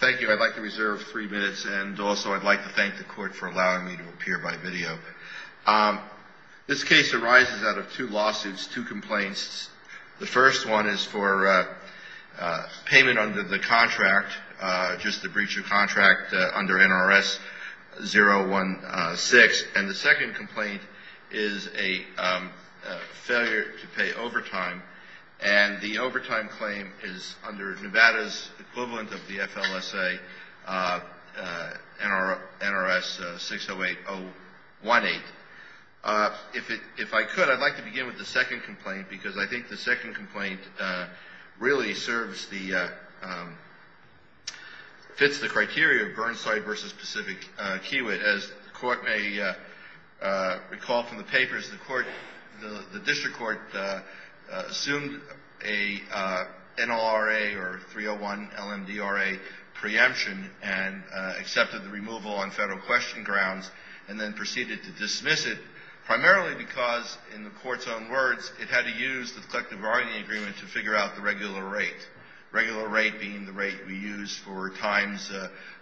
Thank you. I'd like to reserve three minutes and also I'd like to thank the court for allowing me to appear by video. This case arises out of two lawsuits, two complaints. The first one is for payment under the contract, just the breach of contract under NRS 016. And the second complaint is a failure to pay overtime. And the overtime claim is under Nevada's equivalent of the FLSA, NRS 608018. If I could, I'd like to begin with the second complaint because I think the second complaint really serves the, fits the criteria of Burnside v. Pacific Kiewit. As the court may recall from the papers, the court, the district court assumed a NLRA or 301 LMDRA preemption and accepted the removal on federal question grounds and then proceeded to dismiss it primarily because in the court's own words, it had to use the collective bargaining agreement to figure out the regular rate. Regular rate being the rate we use for times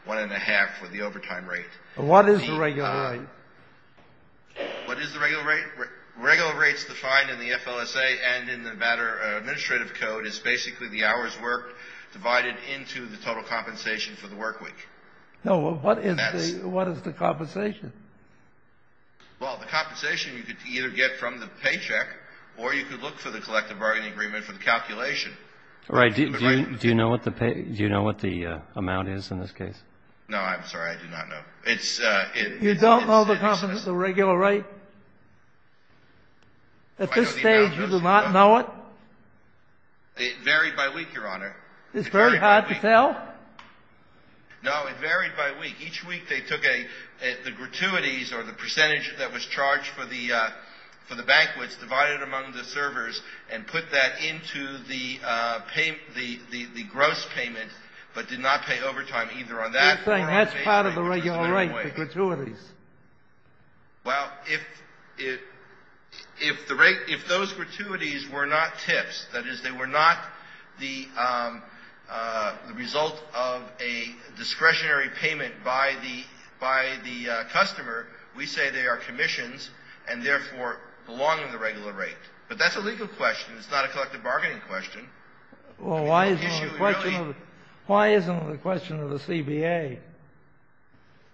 one and a half for the overtime rate. What is the regular rate? What is the regular rate? Regular rates defined in the FLSA and in the Nevada administrative code is basically the hours worked divided into the total compensation for the work week. No, what is the compensation? Well, the compensation you could either get from the paycheck or you could look for the collective bargaining agreement for the calculation. Right. Do you know what the pay, do you know what the amount is in this case? No, I'm sorry. I do not know. It's a. You don't know the competence of the regular rate? At this stage, you do not know it? It varied by week, Your Honor. It's very hard to tell? No, it varied by week. Each week they took a, the gratuities or the percentage that was charged for the, for the banquets divided among the servers and put that into the payment, the gross payment, but did not pay overtime either on that. He's saying that's part of the regular rate, the gratuities. Well, if, if, if the rate, if those gratuities were not tips, that is, they were not the result of a discretionary payment by the, by the customer, we say they are commissions and therefore belong to the regular rate. But that's a legal question. It's not a collective bargaining question. Well, why isn't it a question of, why isn't it a question of the CBA?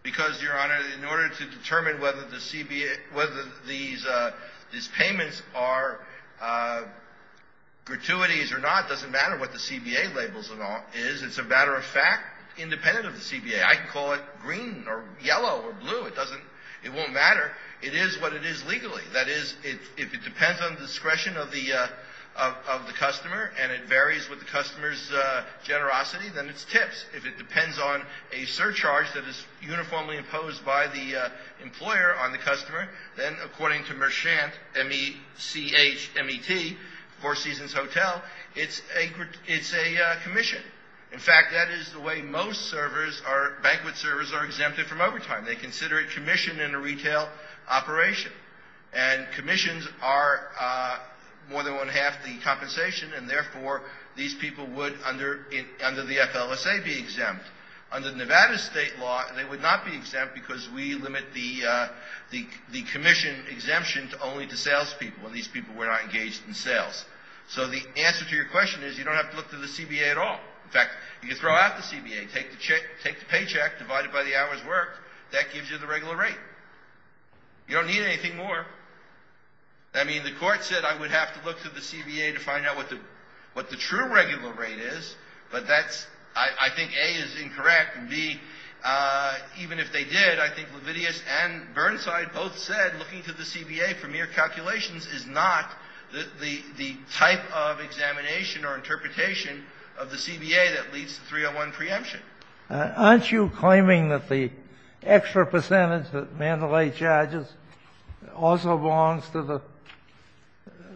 Because, Your Honor, in order to determine whether the CBA, whether these, these payments are gratuities or not, it doesn't matter what the CBA labels them all as. It's a matter of fact independent of the CBA. I can call it green or yellow or blue. It doesn't, it won't matter. It is what it is legally. That is, if, if it depends on the discretion of the, of, of the customer and it varies with the customer's generosity, then it's tips. If it depends on a surcharge that is uniformly imposed by the employer on the customer, then according to Merchant, M-E-C-H-M-E-T, Four Seasons Hotel, it's a, it's a commission. In fact, that is the way most servers are, banquet servers are exempted from overtime. They consider it commission in a retail operation. And commissions are more than one-half the compensation, and therefore, these people would, under, under the FLSA, be exempt. Under Nevada's state law, they would not be exempt because we limit the, the, the commission exemption to only to salespeople, and these people were not engaged in sales. So the answer to your question is you don't have to look through the CBA at all. In fact, you can throw out the CBA, take the check, take the paycheck, divide it by the hours worked. That gives you the regular rate. You don't need anything more. I mean, the Court said I would have to look through the CBA to find out what the, what the true regular rate is, but that's, I, I think A is incorrect, and B, even if they did, I think Levidius and Burnside both said looking through the CBA for mere calculations is not the, the, the type of examination or interpretation of the CBA that leads to 301 preemption. Aren't you claiming that the extra percentage that Mandalay charges also belongs to the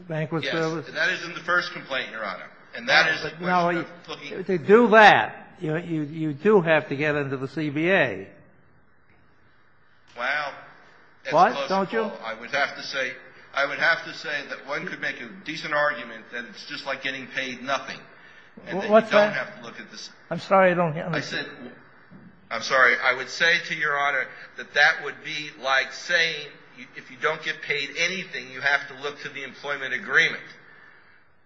Banquet Service? Yes. And that is in the first complaint, Your Honor. And that is the question of looking through the CBA. Now, to do that, you, you, you do have to get into the CBA. Well, that's a closer call. What? Don't you? I would have to say, I would have to say that one could make a decent argument that it's just like getting paid nothing. What's that? And then you don't have to look at the CBA. I'm sorry, I don't understand. I said, I'm sorry. I would say to Your Honor that that would be like saying if you don't get paid anything, you have to look to the employment agreement.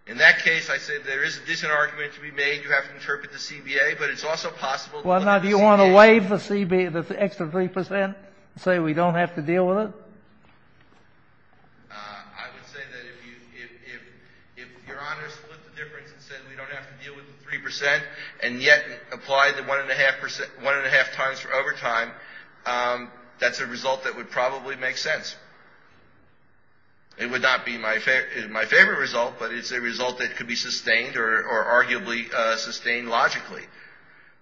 In that case, I said there is a decent argument to be made, you have to interpret the CBA, but it's also possible to look at the CBA. Well, now, do you want to waive the CBA, the extra 3 percent, and say we don't have to deal with it? I would say that if you, if, if, if Your Honor split the difference and said we don't have to deal with the 3 percent and yet apply the 1.5 percent, 1.5 times for overtime, that's a result that would probably make sense. It would not be my favorite result, but it's a result that could be sustained or arguably sustained logically.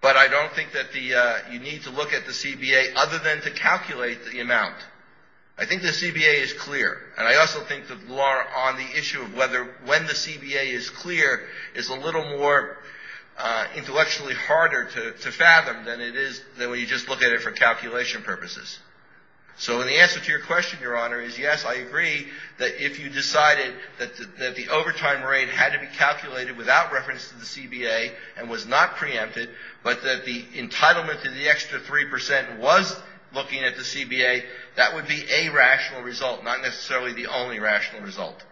But I don't think that the, you need to look at the CBA other than to calculate the amount. I think the CBA is clear. And I also think the law on the issue of whether, when the CBA is clear is a little more intellectually harder to, to fathom than it is, than when you just look at it for calculation purposes. So the answer to your question, Your Honor, is yes, I agree that if you decided that, that the overtime rate had to be calculated without reference to the CBA and was not preempted, but that the entitlement to the extra 3 percent was looking at the CBA, that would be a rational result, not necessarily the only rational result.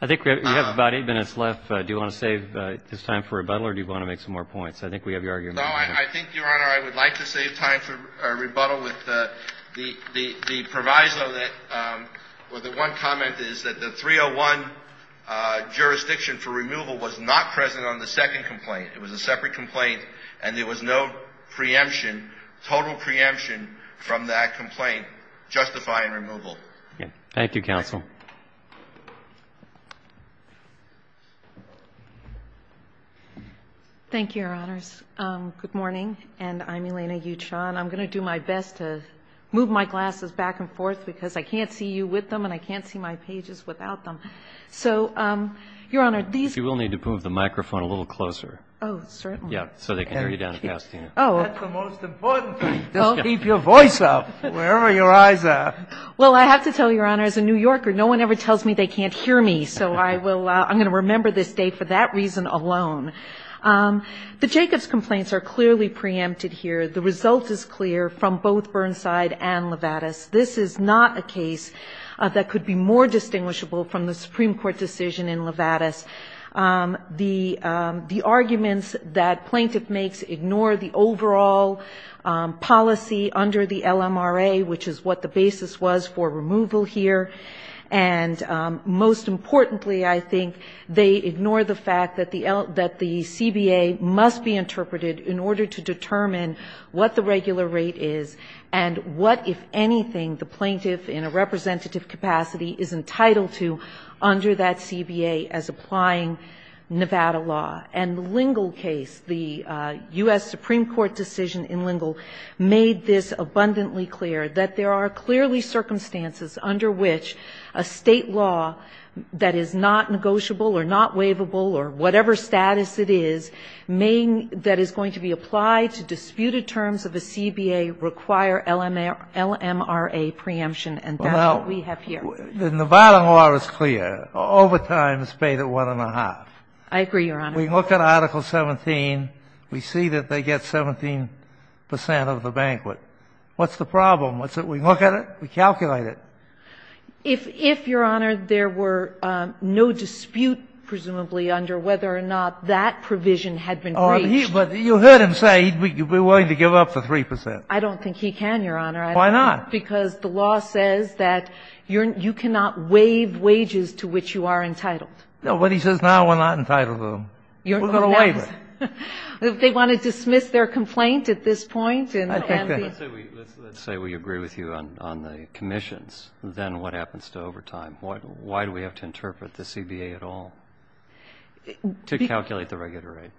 I think we have about eight minutes left. Do you want to save this time for rebuttal or do you want to make some more points? I think we have your argument. No, I think, Your Honor, I would like to save time for rebuttal with the proviso that, well, the one comment is that the 301 jurisdiction for removal was not present on the second complaint. It was a separate complaint and there was no preemption, total preemption from that complaint justifying removal. Okay. Thank you, counsel. Thank you, Your Honors. Good morning, and I'm Elena Uchon. I'm going to do my best to move my glasses back and forth because I can't see you with them and I can't see my pages without them. So, Your Honor, these If you will need to move the microphone a little closer. Oh, certainly. Yeah. So they can hear you down at Pasadena. Oh. That's the most important thing. Don't keep your voice up wherever your eyes are. Well, I have to tell you, Your Honor, as a New Yorker, no one ever tells me they can't hear me. So I will – I'm going to remember this day for that reason alone. The Jacobs complaints are clearly preempted here. The result is clear from both Burnside and Levatas. This is not a case that could be more distinguishable from the Supreme Court decision in Levatas. The arguments that plaintiff makes ignore the overall policy under the LMRA, which is what the basis was for removal here, and most importantly I think they ignore the fact that the CBA must be interpreted in order to determine what the regular rate is and what, if anything, the plaintiff in a representative capacity is entitled to under that CBA as applying Nevada law. And the Lingle case, the U.S. Supreme Court decision in Lingle made this abundantly clear, that there are clearly circumstances under which a state law that is not negotiable or not waivable or whatever status it is that is going to be applied to disputed terms of a CBA require LMRA preemption, and that's what we have here. Well, Nevada law is clear. Overtime is paid at one and a half. I agree, Your Honor. We look at Article 17. We see that they get 17 percent of the banquet. What's the problem? We look at it. We calculate it. If, Your Honor, there were no dispute presumably under whether or not that provision had been breached. But you heard him say he would be willing to give up the 3 percent. I don't think he can, Your Honor. Why not? Because the law says that you cannot waive wages to which you are entitled. No, but he says now we're not entitled to them. We're going to waive it. If they want to dismiss their complaint at this point and the others. Let's say we agree with you on the commissions. Then what happens to overtime? Why do we have to interpret the CBA at all to calculate the regular rate?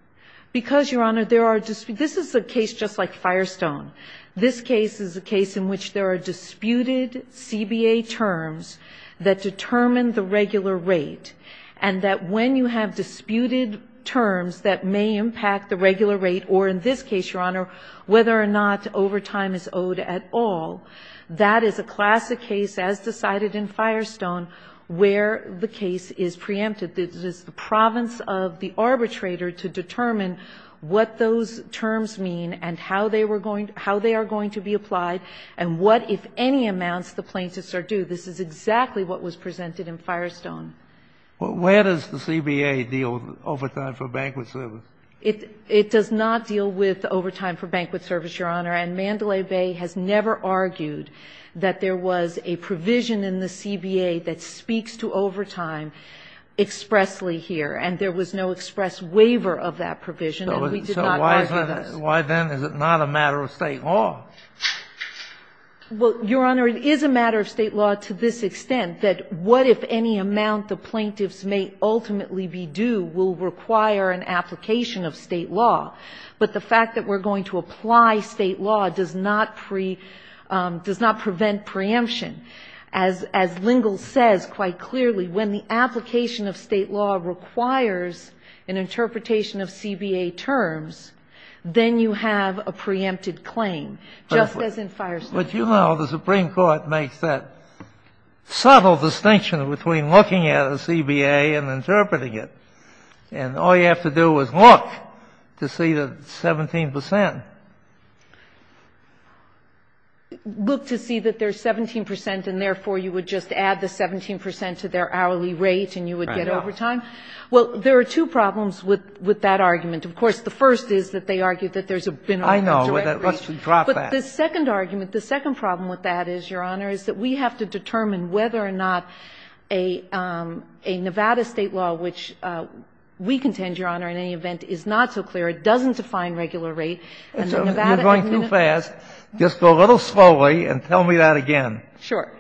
Because, Your Honor, there are disputes. This is a case just like Firestone. This case is a case in which there are disputed CBA terms that determine the regular rate and that when you have disputed terms that may impact the regular rate or in this case, Your Honor, whether or not overtime is owed at all, that is a classic case as decided in Firestone where the case is preempted. It is the province of the arbitrator to determine what those terms mean and how they are going to be applied and what, if any, amounts the plaintiffs are due. This is exactly what was presented in Firestone. Well, where does the CBA deal with overtime for banquet service? It does not deal with overtime for banquet service, Your Honor, and Mandalay Bay has never argued that there was a provision in the CBA that speaks to overtime expressly here, and there was no express waiver of that provision. And we did not argue that. So why then is it not a matter of State law? Well, Your Honor, it is a matter of State law to this extent that what, if any, amount the plaintiffs may ultimately be due will require an application of State law, but the fact that we're going to apply State law does not prevent preemption. As Lingle says quite clearly, when the application of State law requires an interpretation of CBA terms, then you have a preempted claim, just as in Firestone. But you know the Supreme Court makes that subtle distinction between looking at a CBA and interpreting it, and all you have to do is look to see that it's 17 percent. Look to see that there's 17 percent, and therefore, you would just add the 17 percent to their hourly rate, and you would get overtime? Well, there are two problems with that argument. Of course, the first is that they argue that there's a minimum wage. But the second argument, the second problem with that is, Your Honor, is that we have to determine whether or not a Nevada State law, which we contend, Your Honor, in any case, is an hourly rate. And the Nevada law. You're going too fast. Just go a little slowly and tell me that again. Sure.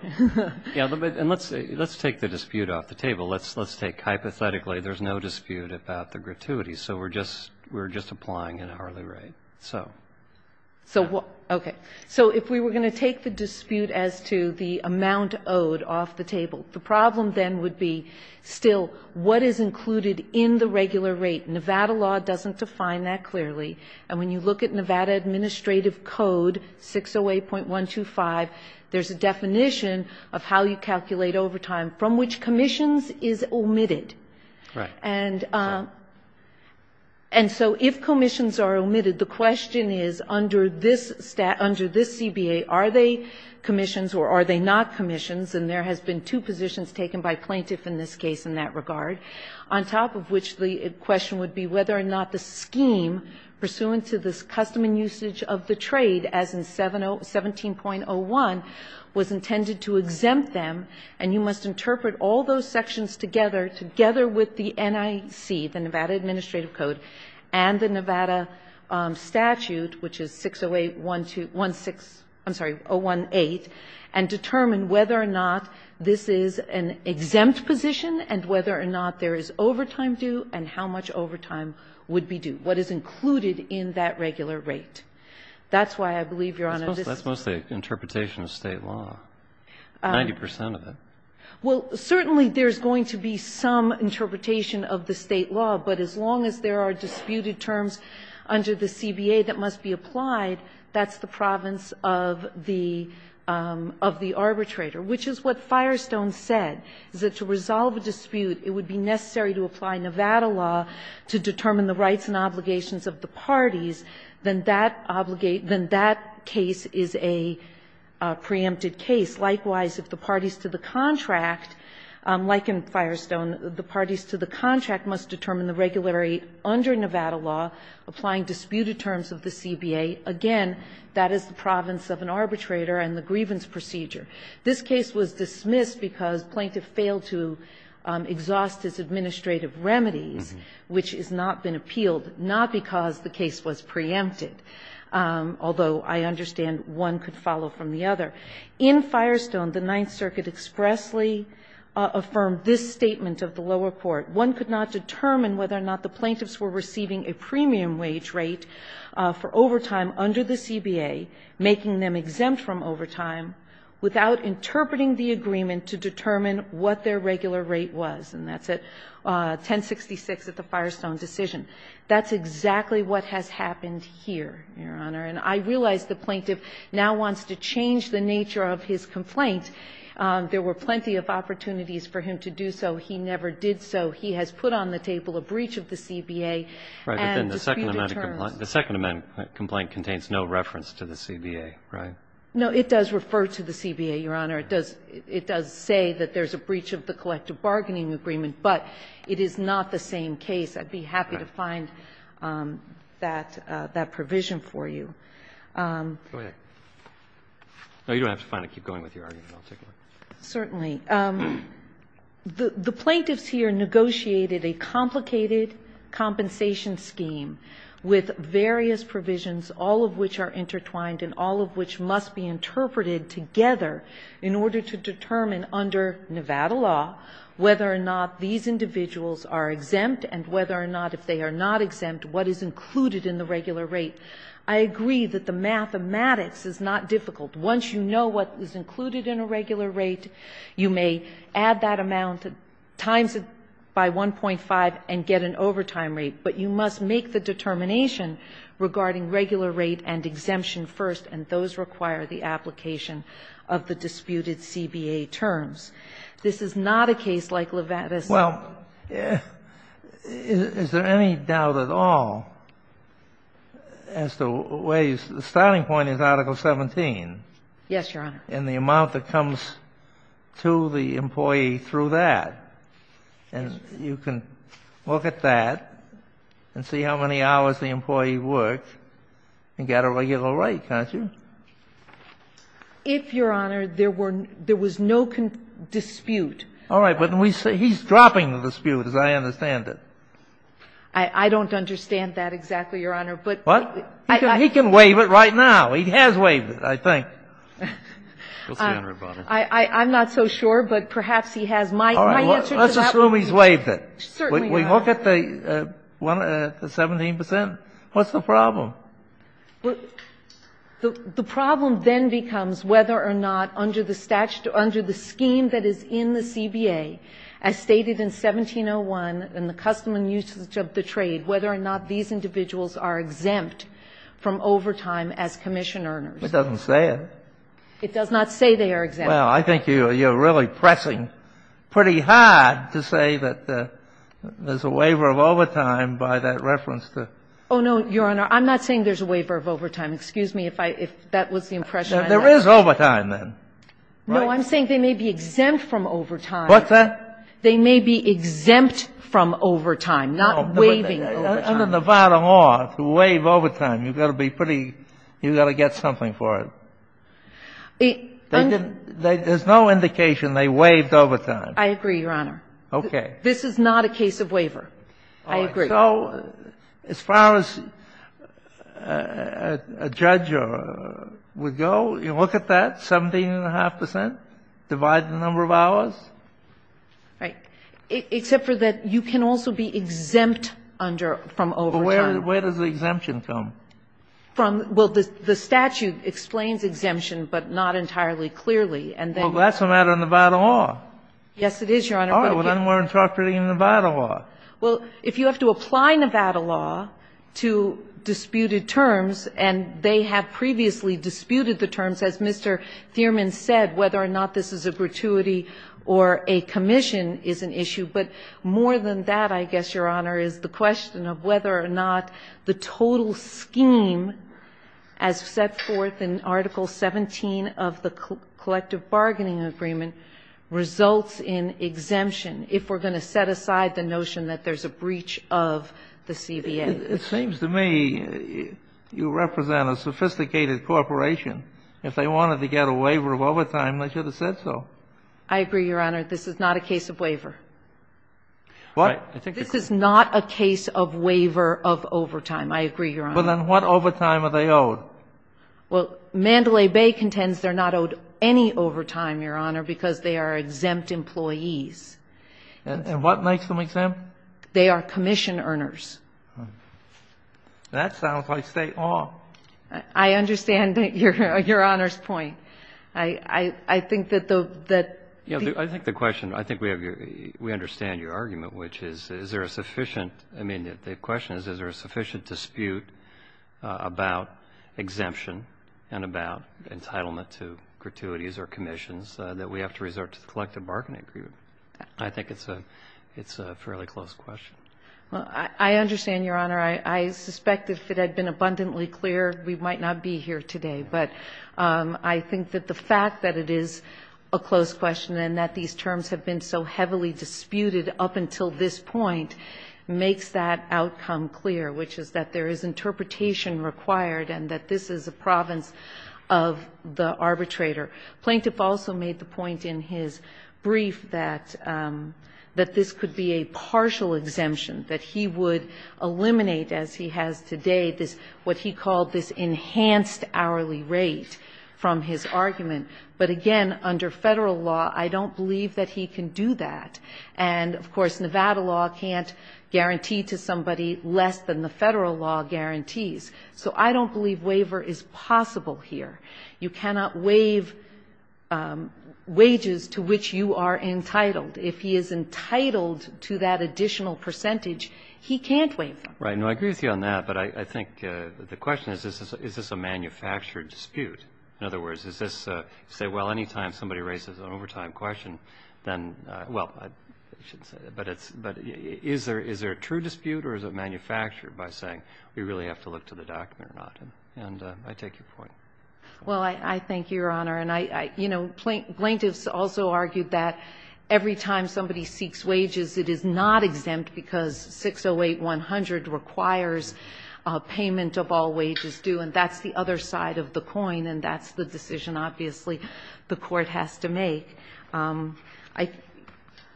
Yes. And let's take the dispute off the table. Let's take hypothetically there's no dispute about the gratuity, so we're just applying an hourly rate. So, okay. So if we were going to take the dispute as to the amount owed off the table, the problem then would be still what is included in the regular rate. Nevada law doesn't define that clearly. And when you look at Nevada Administrative Code 608.125, there's a definition of how you calculate overtime from which commissions is omitted. Right. And so if commissions are omitted, the question is, under this CBA, are they commissions or are they not commissions? And there has been two positions taken by plaintiff in this case in that regard, on top of which the question would be whether or not the scheme pursuant to this custom and usage of the trade, as in 17.01, was intended to exempt them. And you must interpret all those sections together, together with the NIC, the Nevada Administrative Code, and the Nevada statute, which is 608.126, I'm sorry, 018, and do and how much overtime would be due, what is included in that regular rate. That's why I believe, Your Honor, this is the case. That's mostly an interpretation of State law, 90 percent of it. Well, certainly there's going to be some interpretation of the State law, but as long as there are disputed terms under the CBA that must be applied, that's the province of the arbitrator, which is what Firestone said, is that to resolve a dispute, it would be necessary to apply Nevada law to determine the rights and obligations of the parties, then that case is a preempted case. Likewise, if the parties to the contract, like in Firestone, the parties to the contract must determine the regular rate under Nevada law, applying disputed terms of the CBA. Again, that is the province of an arbitrator and the grievance procedure. This case was dismissed because plaintiff failed to exhaust his administrative remedies, which has not been appealed, not because the case was preempted, although I understand one could follow from the other. In Firestone, the Ninth Circuit expressly affirmed this statement of the lower court. One could not determine whether or not the plaintiffs were receiving a premium wage rate for overtime under the CBA, making them exempt from overtime, without interpreting the agreement to determine what their regular rate was. And that's at 1066 at the Firestone decision. That's exactly what has happened here, Your Honor. And I realize the plaintiff now wants to change the nature of his complaint. There were plenty of opportunities for him to do so. He never did so. He has put on the table a breach of the CBA. And disputed terms. Right. But then the Second Amendment complaint contains no reference to the CBA, right? No. It does refer to the CBA, Your Honor. It does say that there's a breach of the collective bargaining agreement. But it is not the same case. I'd be happy to find that provision for you. Go ahead. No, you don't have to find it. Keep going with your argument. I'll take it. Certainly. The plaintiffs here negotiated a complicated compensation scheme with various provisions, all of which are intertwined and all of which must be interpreted together in order to determine under Nevada law whether or not these individuals are exempt and whether or not, if they are not exempt, what is included in the regular rate. I agree that the mathematics is not difficult. Once you know what is included in a regular rate, you may add that amount times it by 1.5 and get an overtime rate. But you must make the determination regarding regular rate and exemption first, and those require the application of the disputed CBA terms. This is not a case like Levatas. Well, is there any doubt at all as to where you start? The starting point is Article 17. Yes, Your Honor. And the amount that comes to the employee through that. And you can look at that and see how many hours the employee worked and get a regular rate, can't you? If, Your Honor, there was no dispute. All right. But he's dropping the dispute, as I understand it. I don't understand that exactly, Your Honor. What? He can waive it right now. He has waived it, I think. I'm not so sure, but perhaps he has. All right. Let's assume he's waived it. We look at the 17 percent. What's the problem? The problem then becomes whether or not under the statute, under the scheme that is in the CBA, as stated in 1701 in the custom and usage of the trade, whether or not these individuals are exempt from overtime as commission earners. It doesn't say it. It does not say they are exempt. Well, I think you're really pressing pretty hard to say that there's a waiver of overtime by that reference to the ---- Oh, no, Your Honor. I'm not saying there's a waiver of overtime. Excuse me if that was the impression I had. There is overtime, then. No, I'm saying they may be exempt from overtime. What's that? They may be exempt from overtime, not waiving overtime. Under Nevada law, to waive overtime, you've got to be pretty ---- you've got to get something for it. There's no indication they waived overtime. I agree, Your Honor. Okay. This is not a case of waiver. I agree. All right. So as far as a judge would go, you look at that, 17.5 percent, divide the number of hours. Right. Except for that you can also be exempt under ---- from overtime. But where does the exemption come? From ---- well, the statute explains exemption, but not entirely clearly. And then ---- Well, that's a matter of Nevada law. Yes, it is, Your Honor. All right. Well, then we're interpreting Nevada law. Well, if you have to apply Nevada law to disputed terms, and they have previously disputed the terms, as Mr. Thierman said, whether or not this is a gratuity or a commission is an issue. But more than that, I guess, Your Honor, is the question of whether or not the total scheme as set forth in Article 17 of the Collective Bargaining Agreement results in exemption if we're going to set aside the notion that there's a breach of the CBA. It seems to me you represent a sophisticated corporation. If they wanted to get a waiver of overtime, they should have said so. I agree, Your Honor. This is not a case of waiver. What? This is not a case of waiver of overtime. I agree, Your Honor. Well, then what overtime are they owed? Well, Mandalay Bay contends they're not owed any overtime, Your Honor, because they are exempt employees. And what makes them exempt? They are commission earners. That sounds like state law. I understand Your Honor's point. I think that the question, I think we understand your argument, which is, is there a sufficient, I mean, the question is, is there a sufficient dispute about exemption and about entitlement to gratuities or commissions that we have to resort to the Collective Bargaining Agreement? I think it's a fairly close question. Well, I understand, Your Honor. I suspect if it had been abundantly clear, we might not be here today. But I think that the fact that it is a close question and that these terms have been so heavily disputed up until this point makes that outcome clear, which is that there is interpretation required and that this is a province of the arbitrator. Plaintiff also made the point in his brief that this could be a partial exemption, that he would eliminate, as he has today, this, what he called this enhanced hourly rate from his argument. But again, under Federal law, I don't believe that he can do that. And, of course, Nevada law can't guarantee to somebody less than the Federal law guarantees. So I don't believe waiver is possible here. You cannot waive wages to which you are entitled. If he is entitled to that additional percentage, he can't waive them. Right. No, I agree with you on that. But I think the question is, is this a manufactured dispute? In other words, does this say, well, any time somebody raises an overtime question, then, well, I shouldn't say that. But is there a true dispute or is it manufactured by saying we really have to look to the document or not? And I take your point. Well, I thank you, Your Honor. And, you know, plaintiffs also argued that every time somebody seeks wages, it is not exempt because 608-100 requires a payment of all wages due, and that's the other side of the coin, and that's the decision, obviously, the Court has to make.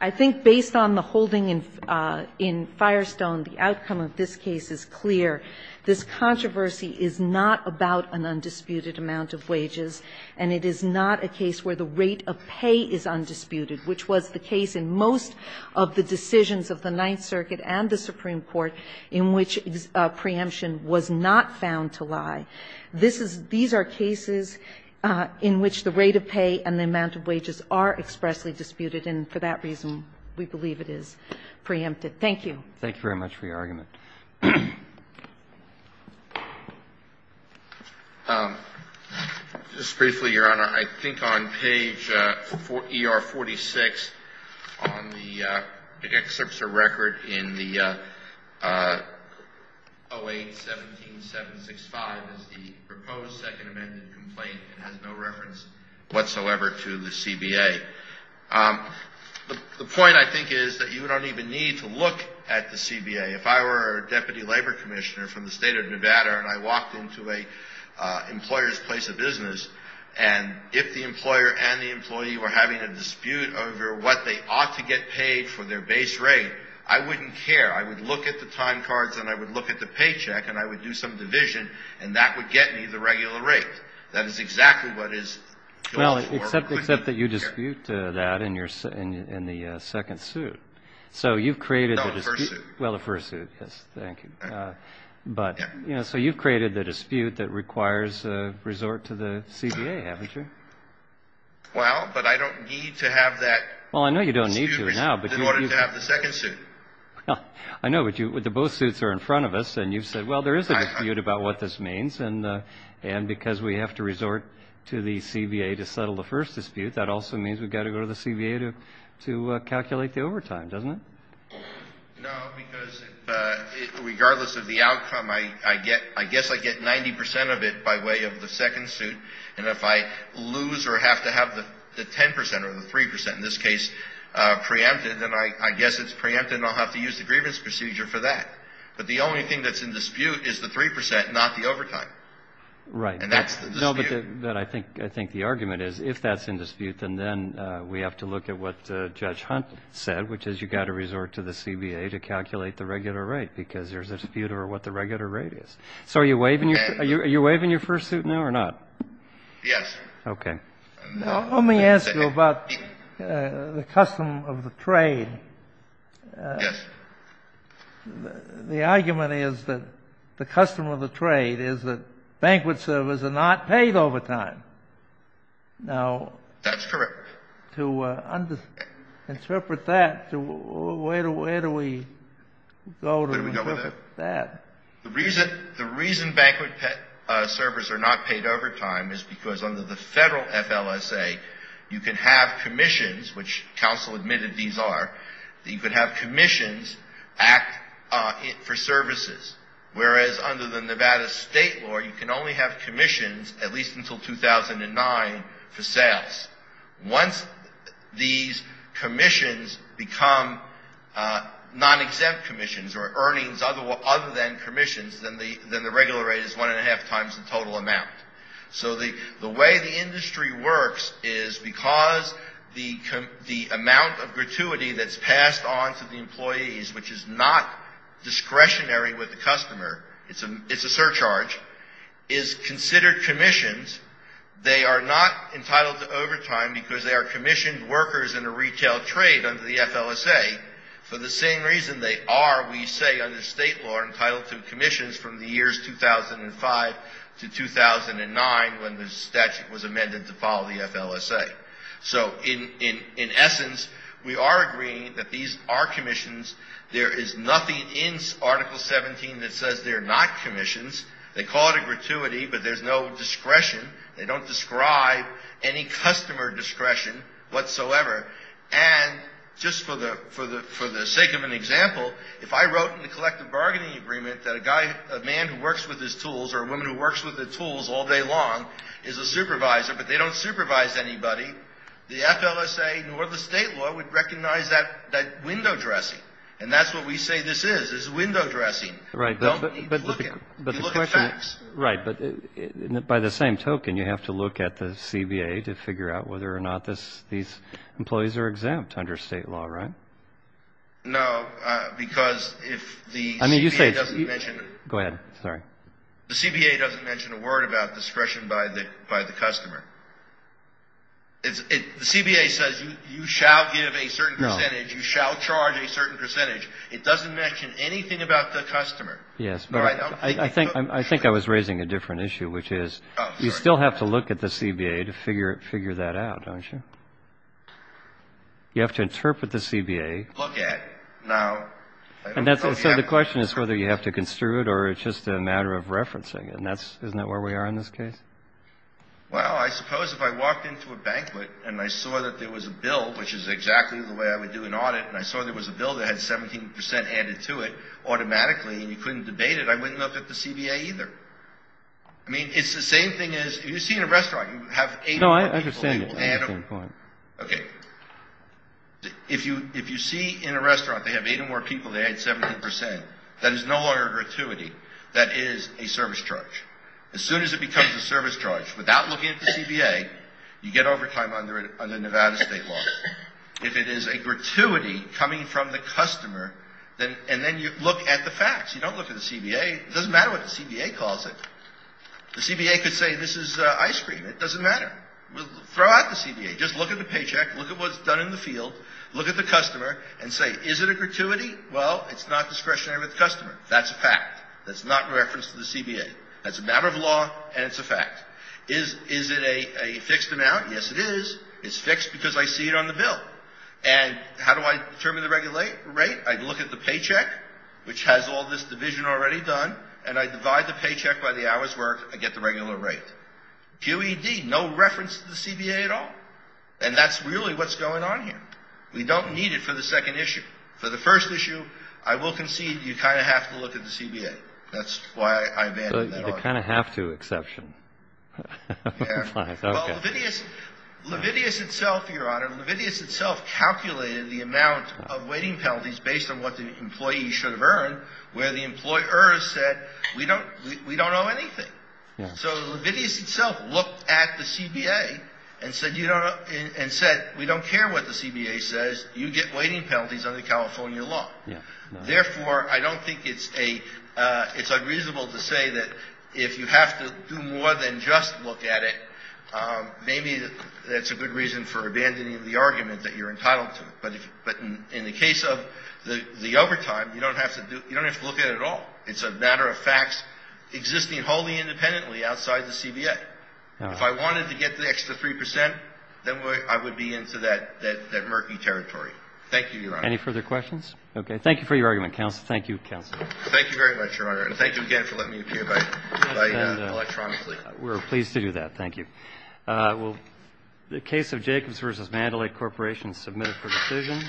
I think based on the holding in Firestone, the outcome of this case is clear. This controversy is not about an undisputed amount of wages, and it is not a case where the rate of pay is undisputed, which was the case in most of the decisions of the Ninth Circuit and the Supreme Court in which preemption was not found to lie. This is these are cases in which the rate of pay and the amount of wages are expressly disputed, and for that reason we believe it is preempted. Thank you. Thank you very much for your argument. Just briefly, Your Honor. I think on page ER-46 on the excerpts of record in the 08-17-765 is the proposed second amended complaint. It has no reference whatsoever to the CBA. The point, I think, is that you don't even need to look at the CBA. If I were a deputy labor commissioner from the State of Nevada and I walked into an employer's place of business, and if the employer and the employee were having a dispute over what they ought to get paid for their base rate, I wouldn't care. I would look at the time cards and I would look at the paycheck and I would do some division, and that would get me the regular rate. That is exactly what is going for. Well, except that you dispute that in the second suit. So you've created the dispute. No, the first suit. Well, the first suit, yes. Thank you. So you've created the dispute that requires a resort to the CBA, haven't you? Well, but I don't need to have that dispute in order to have the second suit. I know, but both suits are in front of us and you've said, well, there is a dispute about what this means, and because we have to resort to the CBA to settle the first dispute, that also means we've got to go to the CBA to calculate the overtime, doesn't it? No, because regardless of the outcome, I guess I get 90 percent of it by way of the second suit, and if I lose or have to have the 10 percent or the 3 percent, in this case, preempted, then I guess it's preempted and I'll have to use the grievance procedure for that. But the only thing that's in dispute is the 3 percent, not the overtime. Right. And that's the dispute. No, but I think the argument is if that's in dispute, then we have to look at what Judge Hunt said, which is you've got to resort to the CBA to calculate the regular rate, because there's a dispute over what the regular rate is. So are you waiving your first suit now or not? Yes. Okay. Let me ask you about the custom of the trade. Yes. The argument is that the custom of the trade is that banquet servers are not paid overtime. That's correct. Now, to interpret that, where do we go to interpret that? The reason banquet servers are not paid overtime is because under the Federal FLSA, you can have commissions, which counsel admitted these are, that you can have commissions act for services. Whereas under the Nevada state law, you can only have commissions at least until 2009 for sales. Once these commissions become non-exempt commissions or earnings other than commissions, then the regular rate is one and a half times the total amount. So the way the industry works is because the amount of gratuity that's passed on to the employees, which is not discretionary with the customer, it's a surcharge, is considered commissions. They are not entitled to overtime because they are commissioned workers in a retail trade under the FLSA for the same reason they are, we say under state law, entitled to commissions from the years 2005 to 2009 when the statute was amended to follow the FLSA. So in essence, we are agreeing that these are commissions. There is nothing in Article 17 that says they're not commissions. They call it a gratuity, but there's no discretion. They don't describe any customer discretion whatsoever. And just for the sake of an example, if I wrote in the collective bargaining agreement that a man who works with his tools or a woman who works with her tools all day long is a supervisor, but they don't supervise anybody, the FLSA nor the state law would recognize that window dressing. And that's what we say this is, is window dressing. You look at facts. Right. But by the same token, you have to look at the CBA to figure out whether or not these employees are exempt under state law, right? No, because if the CBA doesn't mention a word about discretion by the customer, the CBA says you shall give a certain percentage. You shall charge a certain percentage. It doesn't mention anything about the customer. Yes, but I think I was raising a different issue, which is you still have to look at the CBA to figure that out, don't you? You have to interpret the CBA. Look at. No. So the question is whether you have to construe it or it's just a matter of referencing. Isn't that where we are in this case? Well, I suppose if I walked into a banquet and I saw that there was a bill, which is exactly the way I would do an audit, and I saw there was a bill that had 17 percent added to it automatically and you couldn't debate it, I wouldn't look at the CBA either. I mean, it's the same thing as if you see in a restaurant you have eight or more people. No, I understand that. Okay. If you see in a restaurant they have eight or more people, they add 17 percent, that is no longer a gratuity. That is a service charge. As soon as it becomes a service charge, without looking at the CBA, you get overtime under Nevada state law. If it is a gratuity coming from the customer, and then you look at the facts. You don't look at the CBA. It doesn't matter what the CBA calls it. The CBA could say this is ice cream. It doesn't matter. Throw out the CBA. Just look at the paycheck. Look at what's done in the field. Look at the customer and say, is it a gratuity? Well, it's not discretionary with the customer. That's a fact. That's not in reference to the CBA. That's a matter of law and it's a fact. Is it a fixed amount? Yes, it is. It's fixed because I see it on the bill. And how do I determine the rate? I look at the paycheck, which has all this division already done. And I divide the paycheck by the hours worked. I get the regular rate. QED, no reference to the CBA at all. And that's really what's going on here. We don't need it for the second issue. For the first issue, I will concede you kind of have to look at the CBA. That's why I've added that on. A kind of have to exception. Well, Levidius itself, Your Honor, Levidius itself calculated the amount of waiting penalties based on what the employee should have earned where the employer said we don't owe anything. So Levidius itself looked at the CBA and said we don't care what the CBA says. You get waiting penalties under California law. Therefore, I don't think it's unreasonable to say that if you have to do more than just look at it, maybe that's a good reason for abandoning the argument that you're entitled to. But in the case of the overtime, you don't have to look at it at all. It's a matter of facts existing wholly independently outside the CBA. If I wanted to get the extra 3 percent, then I would be into that murky territory. Thank you, Your Honor. Any further questions? Okay. Thank you for your argument, counsel. Thank you, counsel. Thank you very much, Your Honor. And thank you again for letting me appear electronically. We're pleased to do that. Thank you. The case of Jacobs v. Mandalay Corporation is submitted for decision.